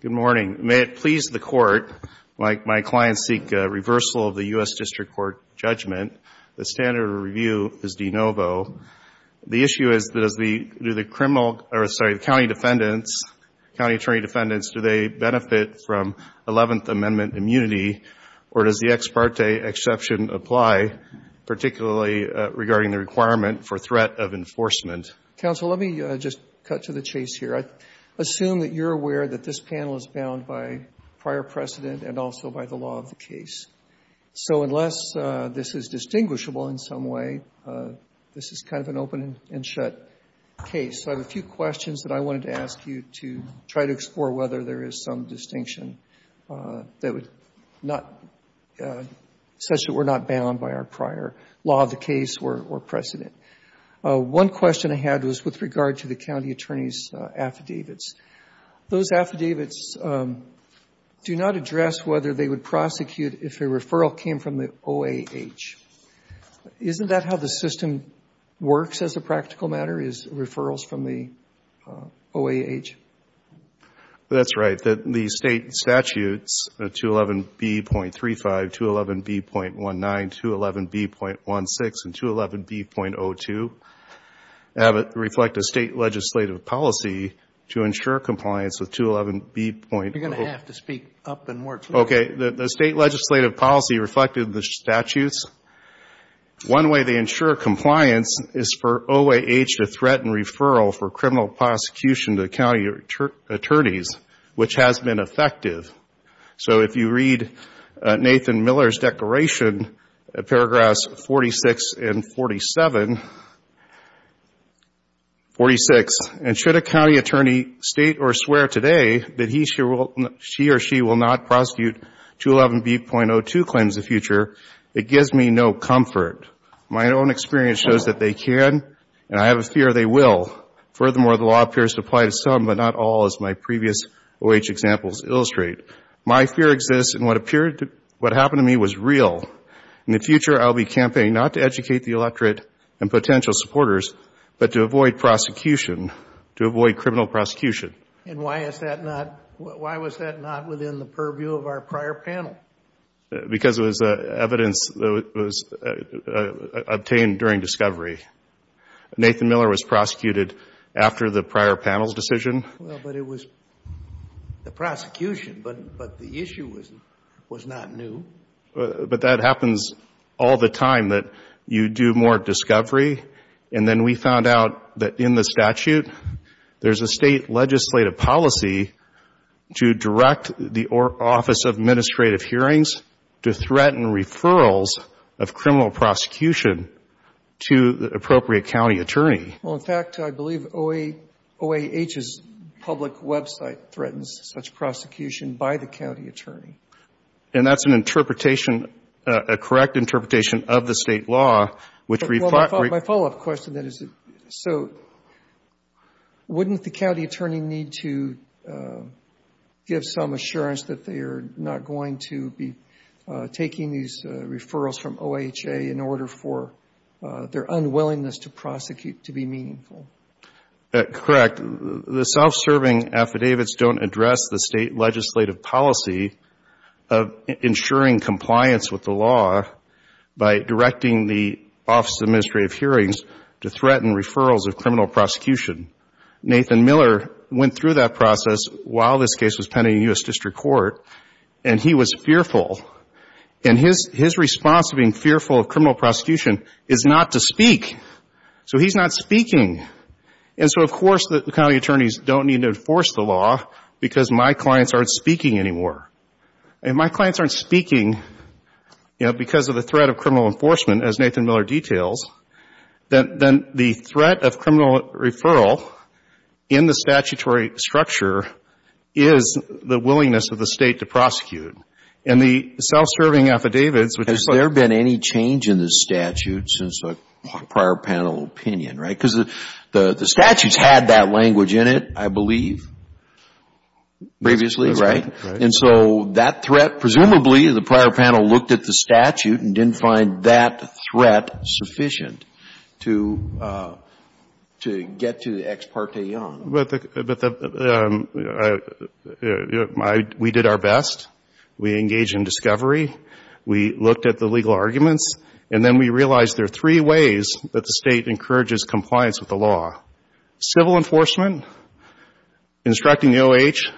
Good morning. May it please the Court, my clients seek a reversal of the U.S. District Court judgment. The standard of review is de novo. The issue is, does the, do the criminal, or sorry, the county defendants, county attorney defendants, do they benefit from 11th Amendment immunity or does the ex parte exception apply, particularly regarding the requirement for threat of enforcement? Judge Goldberg Counsel, let me just cut to the chase here. I assume that you're aware that this panel is bound by prior precedent and also by the law of the case. So unless this is distinguishable in some way, this is kind of an open and shut case. So I have a few questions that I wanted to ask you to try to explore whether there is some distinction that would not, such that we're not bound by our prior law of the case or precedent. One question I had was with regard to the county attorney's affidavits. Those affidavits do not address whether they would prosecute if a referral came from the OAH. Isn't that how the system works as a practical matter, is referrals from the OAH? That's right. The state statutes, 211B.35, 211B.19, 211B.16, and 211B.02, reflect a state legislative policy to ensure compliance with 211B.02. You're going to have to speak up and more clearly. Okay. The state legislative policy reflected the statutes. One way they ensure compliance is for OAH to threaten referral for criminal prosecution to county attorneys, which has been effective. So if you read Nathan Miller's declaration, paragraphs 46 and 47, 46, and should a county attorney state or swear today that he or she will not prosecute 211B.02 claims the future, it gives me no comfort. My own experience shows that they can, and I have a fear they will. Furthermore, the law appears to apply to some, but not all, as my previous OAH examples illustrate. My fear exists, and what happened to me was real. In the future, I'll be campaigning not to educate the electorate and potential supporters, but to avoid prosecution, to avoid criminal prosecution. And why was that not within the purview of our prior panel? Because it was evidence that was obtained during discovery. Nathan Miller was prosecuted after the prior panel's decision. Well, but it was the prosecution, but the issue was not new. But that happens all the time, that you do more discovery, and then we found out that in the statute, there's a state legislative policy to direct the Office of Administrative Hearings to threaten referrals of criminal prosecution to the appropriate county attorney. Well, in fact, I believe OAH's public website threatens such prosecution by the county attorney. And that's an interpretation, a correct interpretation of the state law, which we thought My follow-up question then is, so wouldn't the county attorney need to give some assurance that they are not going to be taking these referrals from OHA in order for their unwillingness to prosecute to be meaningful? Correct. The self-serving affidavits don't address the state legislative policy of ensuring compliance with the law by directing the Office of Administrative Hearings to threaten referrals of criminal prosecution. Nathan Miller went through that process while this case was pending in the U.S. District Court, and he was fearful. And his response to being fearful of criminal prosecution is not to speak. So he's not speaking. And so, of course, the county attorneys don't need to enforce the law because my clients aren't speaking anymore. If my clients aren't speaking, you know, because of the threat of criminal enforcement, as Nathan Miller details, then the threat of criminal referral in the statutory structure is the willingness of the state to prosecute. And the self-serving affidavits, which is what Has there been any change in the statute since a prior panel opinion, right? Because the statute had that language in it, I believe, previously, right? That's right. And so that threat, presumably, the prior panel looked at the statute and didn't find that threat sufficient to get to the ex parte on. We did our best. We engaged in discovery. We looked at the legal arguments. And then we realized there are three ways that the state encourages compliance with the law. Civil enforcement, instructing the O.H.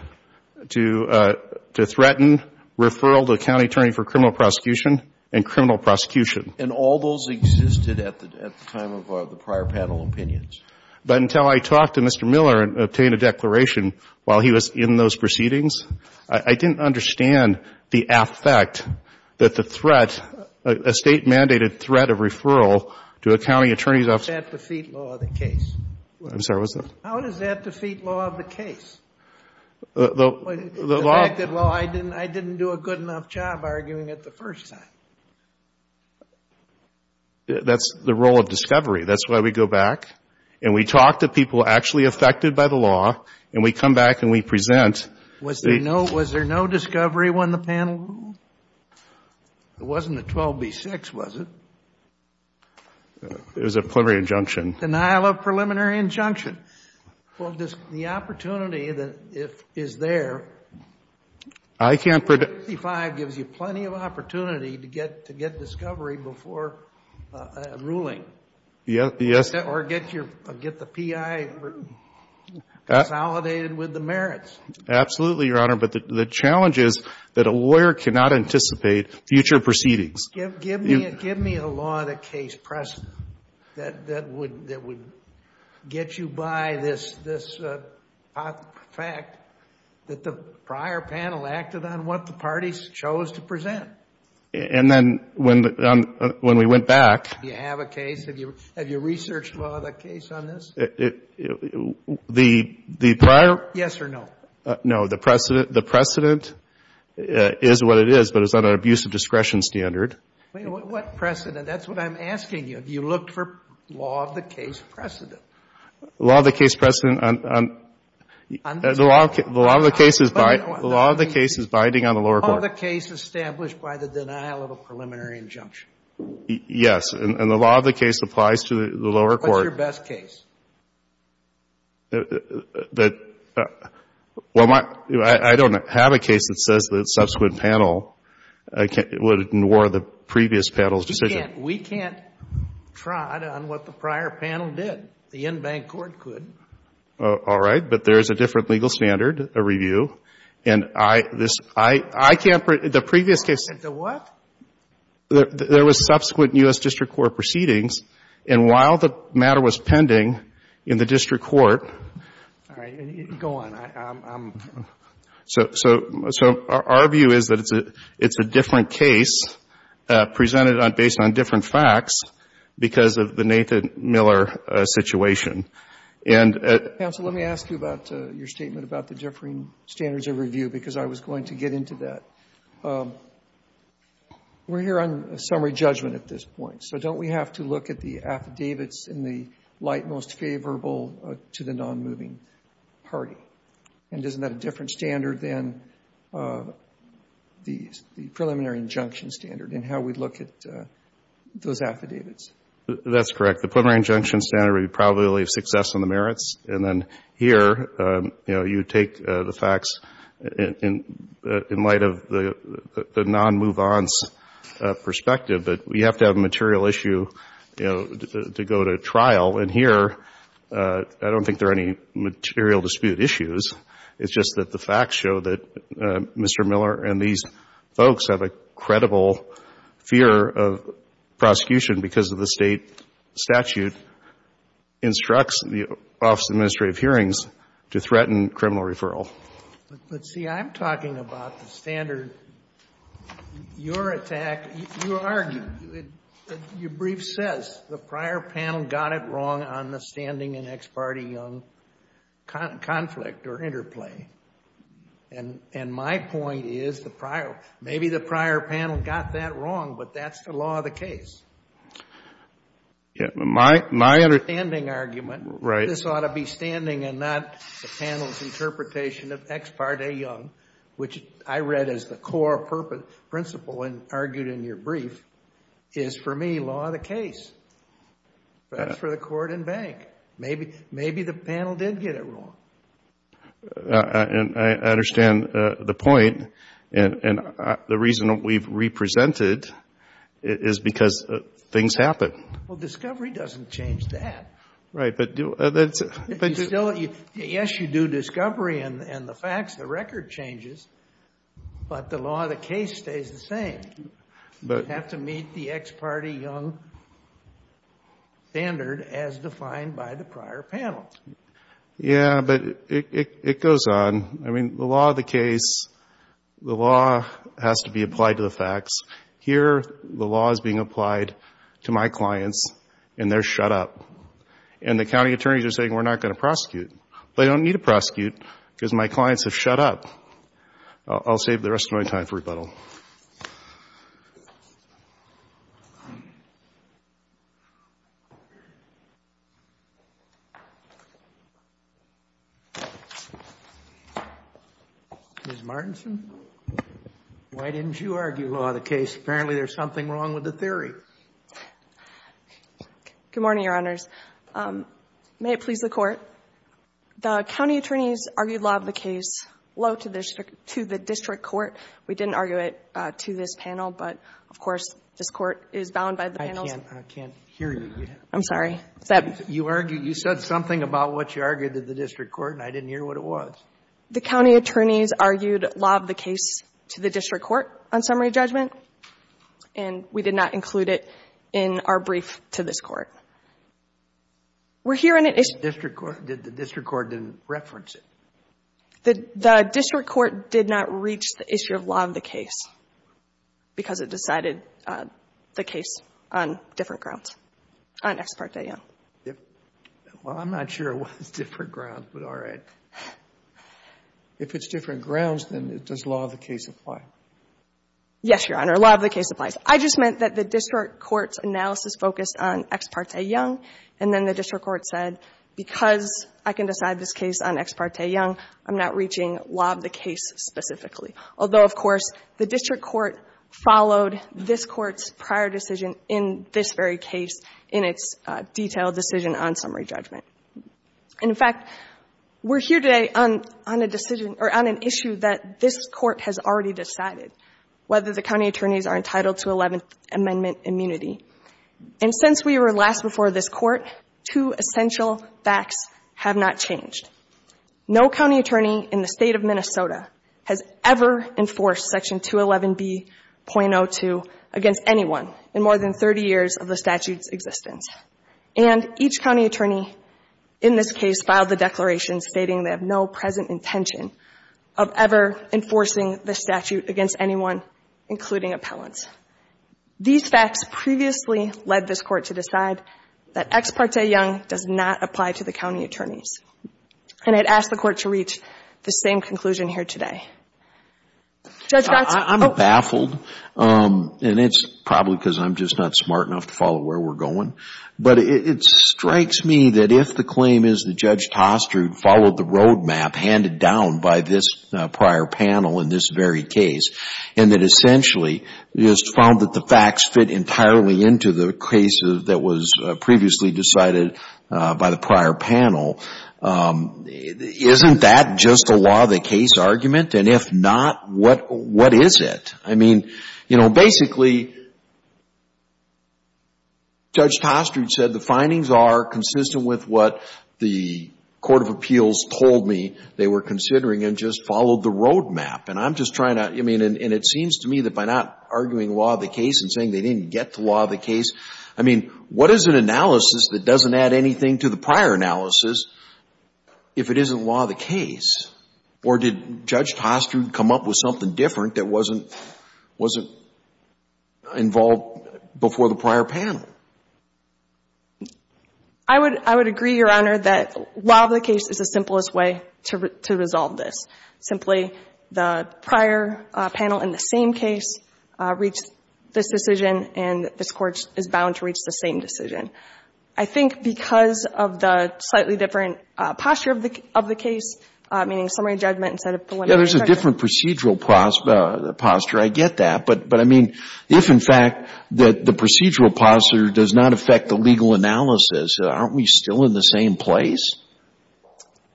to threaten referral to a county attorney for criminal prosecution and criminal prosecution. And all those existed at the time of the prior panel opinions. But until I talked to Mr. Miller and obtained a declaration while he was in those proceedings, I didn't understand the affect that the threat, a state-mandated threat of referral to a county attorney's office How does that defeat law of the case? I'm sorry, what's that? How does that defeat law of the case? The fact that, well, I didn't do a good enough job arguing it the first time. That's the role of discovery. That's why we go back and we talk to people actually affected by the law, and we come back and we present Was there no discovery when the panel ruled? It wasn't a 12B6, was it? It was a preliminary injunction. Denial of preliminary injunction. Well, the opportunity that is there, 155 gives you plenty of opportunity to get discovery before a ruling. Yes. Or get the P.I. consolidated with the merits. Absolutely, Your Honor. But the challenge is that a lawyer cannot anticipate future proceedings. Give me a law of the case precedent that would get you by this fact that the prior panel acted on what the parties chose to present. And then when we went back Do you have a case? Have you researched law of the case on this? The prior Yes or no? No. The precedent is what it is, but it's on an abusive discretion standard. What precedent? That's what I'm asking you. Have you looked for law of the case precedent? Law of the case precedent on The law of the case is binding on the lower court. The law of the case established by the denial of a preliminary injunction. Yes. And the law of the case applies to the lower court. What's your best case? Well, I don't have a case that says the subsequent panel would ignore the previous panel's decision. We can't try it on what the prior panel did. The in-bank court could. All right. But there's a different legal standard, a review. And I can't The what? There was subsequent U.S. District Court proceedings, and while the matter was pending, in the district court All right. Go on. So our view is that it's a different case presented based on different facts because of the Nathan Miller situation. Counsel, let me ask you about your statement about the differing standards of review because I was going to get into that. We're here on summary judgment at this point, so don't we have to look at the affidavits in the light most favorable to the nonmoving party? And isn't that a different standard than the preliminary injunction standard and how we look at those affidavits? That's correct. The preliminary injunction standard would be probability of success on the merits. And then here, you know, you take the facts in light of the nonmove-ons perspective, but we have to have a material issue, you know, to go to trial. And here, I don't think there are any material dispute issues. It's just that the facts show that Mr. Miller and these folks have a credible fear of prosecution because of the State statute instructs the Office of Administrative Hearings to threaten criminal referral. But, see, I'm talking about the standard. Your attack, you argue, your brief says the prior panel got it wrong on the standing and ex parte young conflict or interplay. And my point is the prior, maybe the prior panel got that wrong, but that's the law of the case. My understanding argument, this ought to be standing and not the panel's interpretation of ex parte young, which I read as the core principle and argued in your brief, is, for me, law of the case. That's for the court and bank. Maybe the panel did get it wrong. And I understand the point. And the reason we've represented is because things happen. Well, discovery doesn't change that. Right. Yes, you do discovery and the facts. The record changes. But the law of the case stays the same. You have to meet the ex parte young standard as defined by the prior panel. Yeah, but it goes on. I mean, the law of the case, the law has to be applied to the facts. Here, the law is being applied to my clients, and they're shut up. And the county attorneys are saying, we're not going to prosecute. They don't need to prosecute because my clients have shut up. I'll save the rest of my time for rebuttal. Ms. Martinson, why didn't you argue law of the case? Good morning, Your Honors. May it please the Court. The county attorneys argued law of the case low to the district court. We didn't argue it to this panel, but, of course, this court is bound by the panel's I can't hear you. I'm sorry. You said something about what you argued to the district court, and I didn't hear what it was. The county attorneys argued law of the case to the district court on summary judgment, and we did not include it in our brief to this court. We're hearing it. The district court didn't reference it. The district court did not reach the issue of law of the case because it decided the case on different grounds, on ex parte, yeah. Well, I'm not sure it was different grounds, but all right. If it's different grounds, then does law of the case apply? Yes, Your Honor. Law of the case applies. I just meant that the district court's analysis focused on ex parte young, and then the district court said, because I can decide this case on ex parte young, I'm not reaching law of the case specifically. Although, of course, the district court followed this Court's prior decision in this very case in its detailed decision on summary judgment. And, in fact, we're here today on a decision or on an issue that this Court has already decided, whether the county attorneys are entitled to Eleventh Amendment immunity. And since we were last before this Court, two essential facts have not changed. No county attorney in the State of Minnesota has ever enforced Section 211B.02 against anyone in more than 30 years of the statute's existence. And each county attorney in this case filed the declaration stating they have no present intention of ever enforcing the statute against anyone, including appellants. These facts previously led this Court to decide that ex parte young does not apply to the county attorneys. And I'd ask the Court to reach the same conclusion here today. Judge Gatz? I'm baffled, and it's probably because I'm just not smart enough to follow where we're going. But it strikes me that if the claim is that Judge Toster followed the roadmap, handed down by this prior panel in this very case, and that essentially it's found that the facts fit entirely into the case that was previously decided by the prior panel, isn't that just a law of the case argument? And if not, what is it? I mean, you know, basically, Judge Toster said the findings are consistent with what the Court of Appeals told me they were considering and just followed the roadmap. And I'm just trying to — I mean, and it seems to me that by not arguing law of the case and saying they didn't get to law of the case, I mean, what is an analysis that doesn't add anything to the prior analysis if it isn't law of the case? Or did Judge Toster come up with something different that wasn't — wasn't involved before the prior panel? I would — I would agree, Your Honor, that law of the case is the simplest way to — to resolve this. Simply, the prior panel in the same case reached this decision, and this Court is bound to reach the same decision. I think because of the slightly different posture of the — of the case, meaning summary judgment instead of preliminary judgment. Yeah, there's a different procedural posture. I get that. But — but I mean, if, in fact, the procedural posture does not affect the legal analysis, aren't we still in the same place?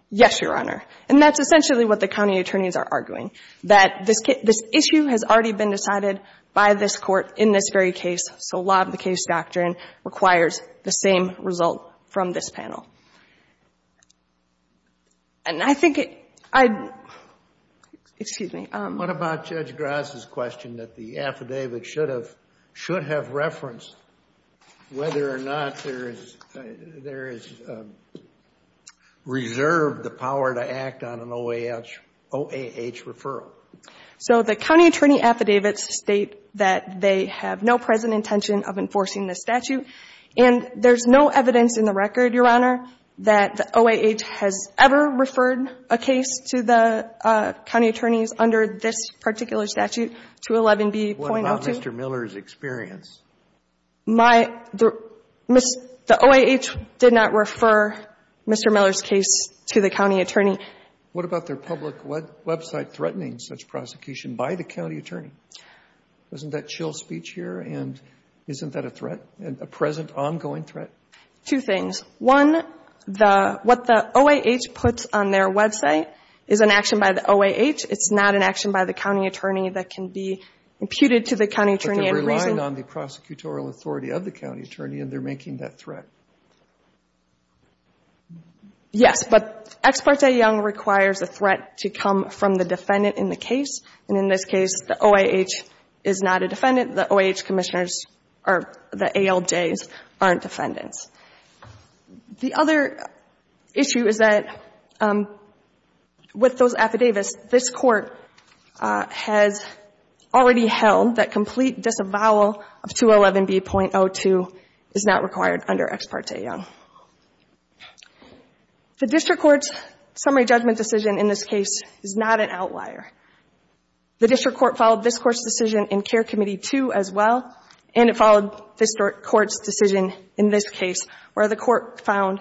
Yes, Your Honor. And that's essentially what the county attorneys are arguing, that this issue has already been decided by this Court in this very case, so law of the case doctrine requires the same result from this panel. And I think it — I — excuse me. What about Judge Grass' question that the affidavit should have — should have referenced whether or not there is — there is reserved the power to act on an OAH — OAH referral? So the county attorney affidavits state that they have no present intention of enforcing this statute, and there's no evidence in the record, Your Honor, that the OAH has ever referred a case to the county attorneys under this particular statute, 211B.02. What about Mr. Miller's experience? My — the OAH did not refer Mr. Miller's case to the county attorney. What about their public website threatening such prosecution by the county attorney? Isn't that chill speech here? And isn't that a threat, a present ongoing threat? Two things. One, the — what the OAH puts on their website is an action by the OAH. It's not an action by the county attorney that can be imputed to the county attorney and reasoned — But they're relying on the prosecutorial authority of the county attorney, and they're making that threat. Yes. But Ex parte Young requires a threat to come from the defendant in the case. And in this case, the OAH is not a defendant. The OAH commissioners are — the ALJs aren't defendants. The other issue is that with those affidavits, this Court has already held that complete disavowal of 211B.02 is not required under Ex parte Young. The district court's summary judgment decision in this case is not an outlier. The district court followed this Court's decision in Care Committee 2 as well, and it followed this Court's decision in this case where the court found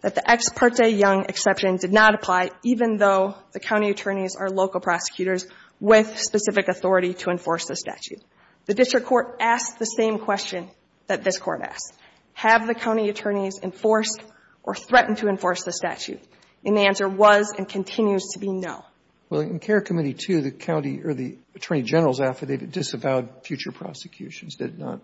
that the Ex parte Young exception did not apply even though the county attorneys are local prosecutors with specific authority to enforce the statute. The district court asked the same question that this Court asked. Have the county attorneys enforced or threatened to enforce the statute? And the answer was and continues to be no. Well, in Care Committee 2, the county or the attorney general's affidavit disavowed future prosecutions, did it not?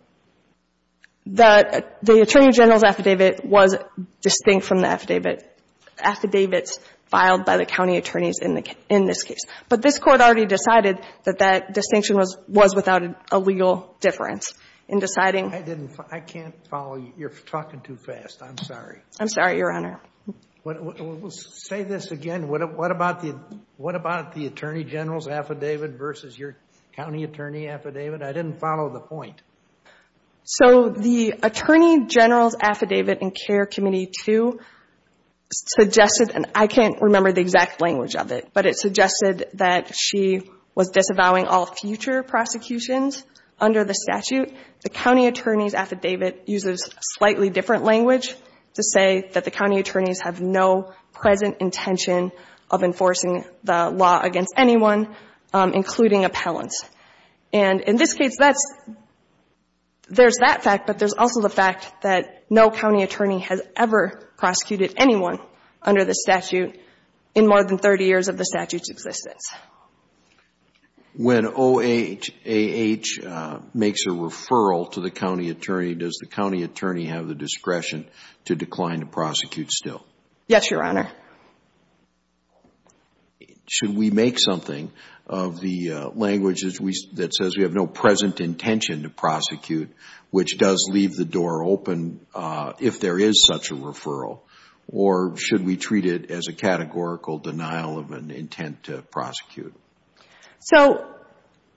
The attorney general's affidavit was distinct from the affidavits filed by the county attorneys in this case. But this Court already decided that that distinction was without a legal difference in deciding — I didn't follow. I can't follow. You're talking too fast. I'm sorry. I'm sorry, Your Honor. Say this again. What about the attorney general's affidavit versus your county attorney affidavit? I didn't follow the point. So the attorney general's affidavit in Care Committee 2 suggested — and I can't remember the exact language of it, but it suggested that she was disavowing all future prosecutions under the statute. The county attorney's affidavit uses a slightly different language to say that county attorneys have no present intention of enforcing the law against anyone, including appellants. And in this case, there's that fact, but there's also the fact that no county attorney has ever prosecuted anyone under the statute in more than 30 years of the statute's existence. When OAH makes a referral to the county attorney, does the county attorney have the discretion to decline to prosecute still? Yes, Your Honor. Should we make something of the language that says we have no present intention to prosecute, which does leave the door open if there is such a referral? Or should we treat it as a categorical denial of an intent to prosecute? So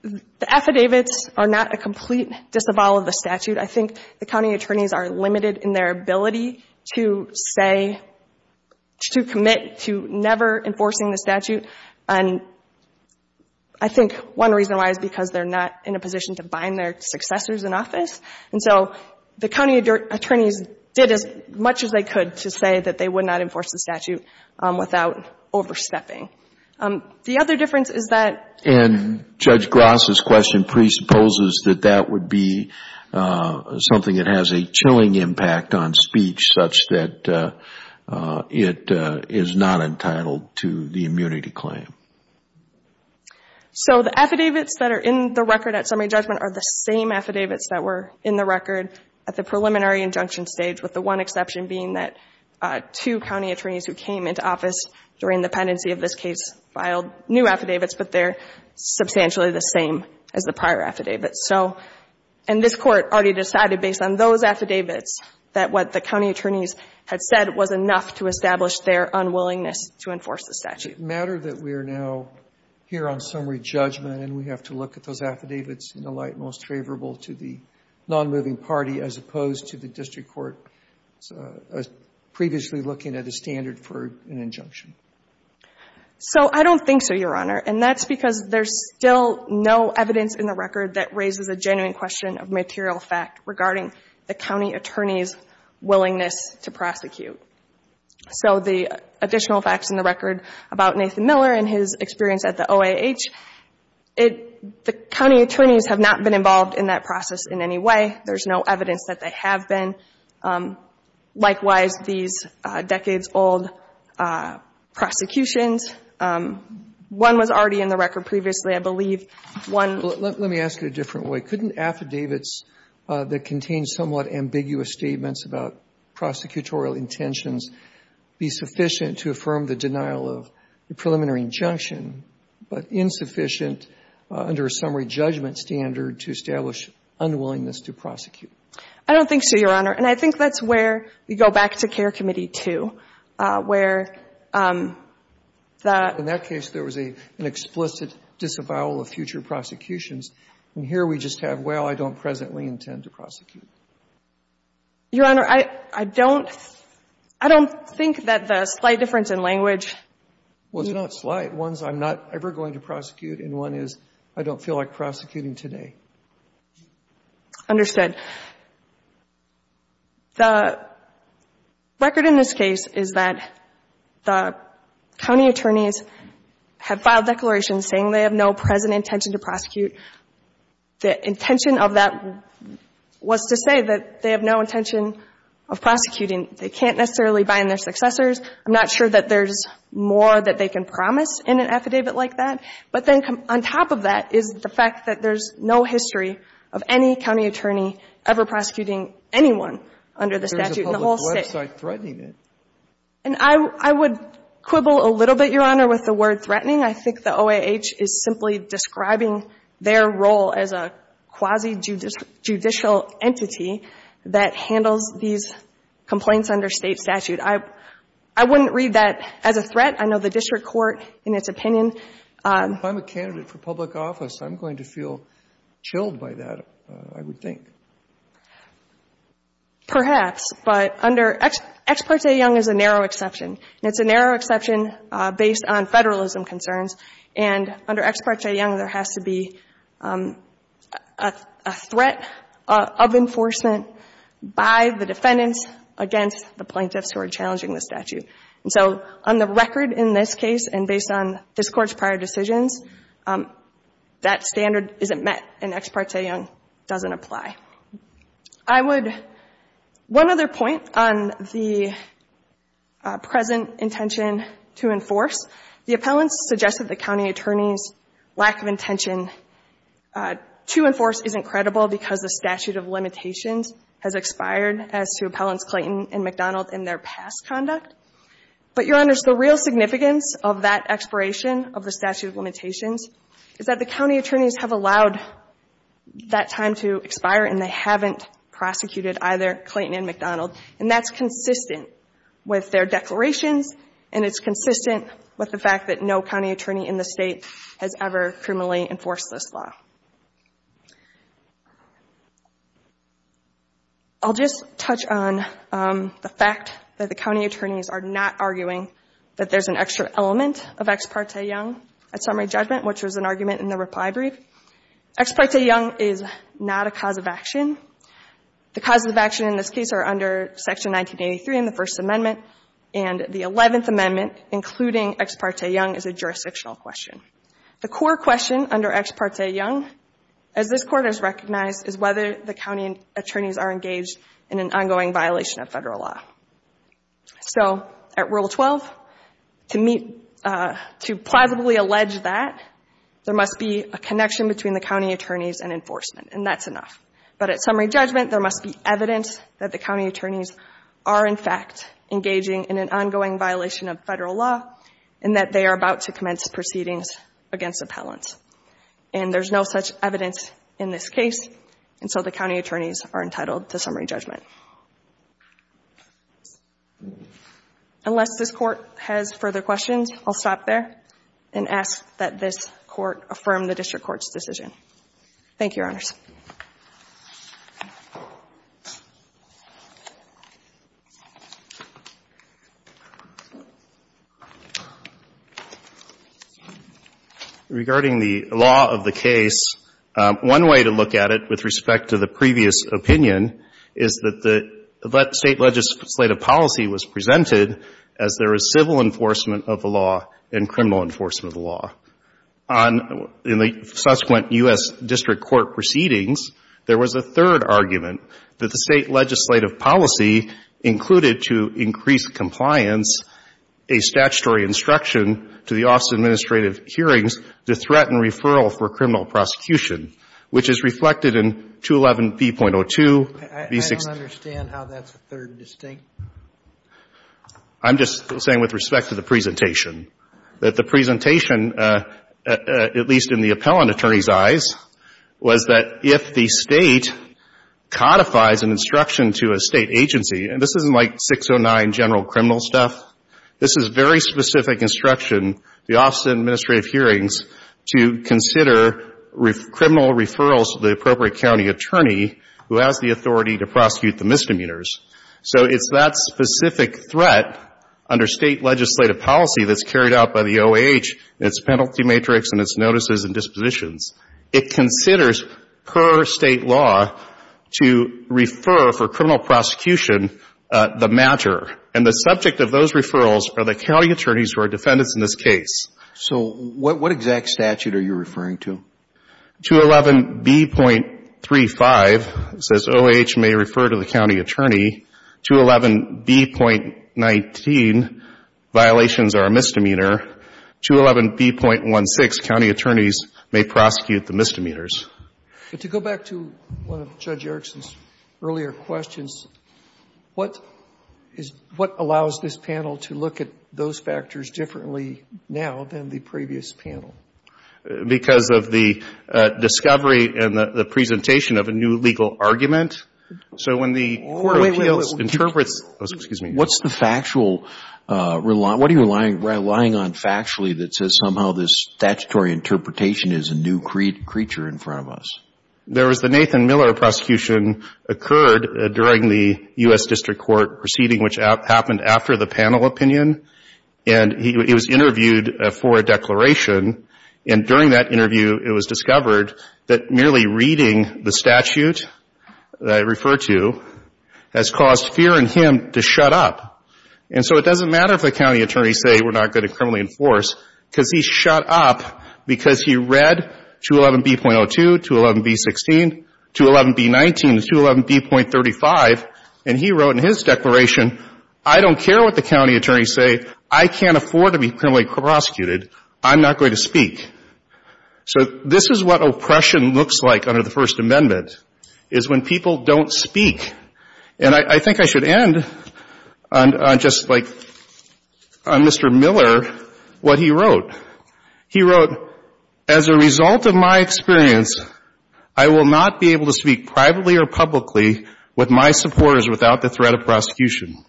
the affidavits are not a complete disavowal of the statute. I think the county attorneys are limited in their ability to say, to commit to never enforcing the statute. And I think one reason why is because they're not in a position to bind their successors in office. And so the county attorneys did as much as they could to say that they would not enforce the statute without overstepping. The other difference is that — something that has a chilling impact on speech such that it is not entitled to the immunity claim. So the affidavits that are in the record at summary judgment are the same affidavits that were in the record at the preliminary injunction stage, with the one exception being that two county attorneys who came into office during the pendency of this case filed new affidavits, but they're substantially the same as the prior affidavits. So — and this Court already decided, based on those affidavits, that what the county attorneys had said was enough to establish their unwillingness to enforce the statute. It matters that we are now here on summary judgment and we have to look at those affidavits in the light most favorable to the nonmoving party as opposed to the district court previously looking at a standard for an injunction. So I don't think so, Your Honor. And that's because there's still no evidence in the record that raises a genuine question of material fact regarding the county attorney's willingness to prosecute. So the additional facts in the record about Nathan Miller and his experience at the OAH, it — the county attorneys have not been involved in that process in any way. There's no evidence that they have been. Likewise, these decades-old prosecutions, one was already in the record previously, I believe. One — Let me ask it a different way. Couldn't affidavits that contain somewhat ambiguous statements about prosecutorial intentions be sufficient to affirm the denial of the preliminary injunction, but insufficient under a summary judgment standard to establish unwillingness to prosecute? I don't think so, Your Honor. And I think that's where we go back to Care Committee 2, where the — In that case, there was an explicit disavowal of future prosecutions, and here we just have, well, I don't presently intend to prosecute. Your Honor, I don't think that the slight difference in language — Well, it's not slight. One's I'm not ever going to prosecute, and one is I don't feel like prosecuting Understood. The record in this case is that the county attorneys have filed declarations saying they have no present intention to prosecute. The intention of that was to say that they have no intention of prosecuting. They can't necessarily bind their successors. I'm not sure that there's more that they can promise in an affidavit like that. But then on top of that is the fact that there's no history of any county attorney ever prosecuting anyone under the statute in the whole State. But there's a public website threatening it. And I would quibble a little bit, Your Honor, with the word threatening. I think the OAH is simply describing their role as a quasi-judicial entity that handles these complaints under State statute. I wouldn't read that as a threat. I know the district court, in its opinion If I'm a candidate for public office, I'm going to feel chilled by that, I would think. Perhaps. But under Ex parte Young is a narrow exception. And it's a narrow exception based on Federalism concerns. And under Ex parte Young, there has to be a threat of enforcement by the defendants against the plaintiffs who are challenging the statute. And so on the record in this case, and based on this Court's prior decisions, that standard isn't met. And Ex parte Young doesn't apply. I would, one other point on the present intention to enforce. The appellants suggest that the county attorney's lack of intention to enforce isn't credible because the statute of limitations has expired as to appellants Clayton and McDonald in their past conduct. But, Your Honors, the real significance of that expiration of the statute of limitations is that the county attorneys have allowed that time to expire, and they haven't prosecuted either Clayton and McDonald. And that's consistent with their declarations, and it's consistent with the fact that no county attorney in the State has ever criminally enforced this law. I'll just touch on the fact that the county attorneys are not arguing that there's an extra element of Ex parte Young at summary judgment, which was an argument in the reply brief. Ex parte Young is not a cause of action. The causes of action in this case are under Section 1983 in the First Amendment, and the Eleventh Amendment, including Ex parte Young, is a jurisdictional question. The core question under Ex parte Young, as this Court has recognized, is whether the county attorneys are engaged in an ongoing violation of federal law. So at Rule 12, to meet, to plausibly allege that, there must be a connection between the county attorneys and enforcement, and that's enough. But at summary judgment, there must be evidence that the county attorneys are, in fact, engaging in an ongoing violation of federal law and that they are about to commence proceedings against appellants. And there's no such evidence in this case, and so the county attorneys are entitled to summary judgment. Unless this Court has further questions, I'll stop there and ask that this Court affirm the District Court's decision. Thank you, Your Honors. Regarding the law of the case, one way to look at it with respect to the previous opinion is that the State legislative policy was presented as there is civil enforcement of the law and criminal enforcement of the law. In the subsequent U.S. District Court proceedings, there was a third argument, that the State legislative policy included to increase compliance a statutory instruction to the Office of Administrative Hearings to threaten referral for criminal prosecution, which is reflected in 211B.02. I don't understand how that's a third distinct. I'm just saying with respect to the presentation, that the presentation, at least in the appellant attorney's eyes, was that if the State codifies an instruction to a State agency, and this isn't like 609 general criminal stuff. This is very specific instruction, the Office of Administrative Hearings, to consider criminal referrals to the appropriate county attorney who has the authority to prosecute the misdemeanors. So it's that specific threat under State legislative policy that's carried out by the OAH and its penalty matrix and its notices and dispositions. It considers per State law to refer for criminal prosecution the matter. And the subject of those referrals are the county attorneys who are defendants in this case. So what exact statute are you referring to? 211B.35 says OAH may refer to the county attorney. 211B.19, violations are a misdemeanor. 211B.16, county attorneys may prosecute the misdemeanors. But to go back to one of Judge Erickson's earlier questions, what is — what allows this panel to look at those factors differently now than the previous panel? Because of the discovery and the presentation of a new legal argument. So when the court appeals, interprets — Wait, wait, wait. Excuse me. What's the factual — what are you relying on factually that says somehow this statutory interpretation is a new creature in front of us? There was the Nathan Miller prosecution occurred during the U.S. District Court proceeding, which happened after the panel opinion. And he was interviewed for a declaration. And during that interview, it was discovered that merely reading the statute that I And so it doesn't matter if the county attorneys say we're not going to criminally enforce, because he shut up because he read 211B.02, 211B.16, 211B.19, 211B.35, and he wrote in his declaration, I don't care what the county attorneys say. I can't afford to be criminally prosecuted. I'm not going to speak. So this is what oppression looks like under the First Amendment, is when people don't speak. And I think I should end on just, like, on Mr. Miller, what he wrote. He wrote, as a result of my experience, I will not be able to speak privately or publicly with my supporters without the threat of prosecution.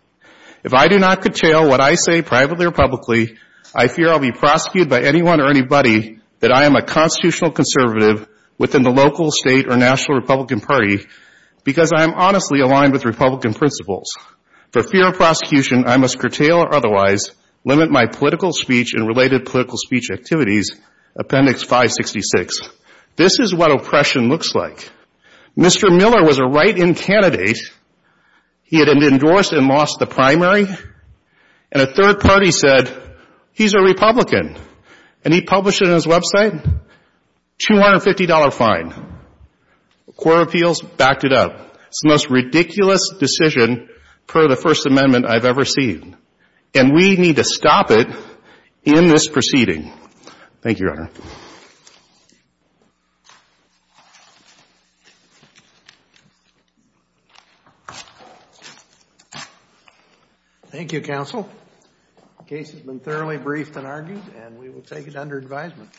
If I do not curtail what I say privately or publicly, I fear I'll be prosecuted by anyone or anybody that I am a constitutional conservative within the local, state, or principles. For fear of prosecution, I must curtail or otherwise limit my political speech and related political speech activities, Appendix 566. This is what oppression looks like. Mr. Miller was a write-in candidate. He had been endorsed and lost the primary. And a third party said, he's a Republican. And he published it on his website, $250 fine. Court of Appeals backed it up. It's the most ridiculous decision per the First Amendment I've ever seen. And we need to stop it in this proceeding. Thank you, Your Honor. Thank you, counsel. The case has been thoroughly briefed and argued, and we will take it under advisement.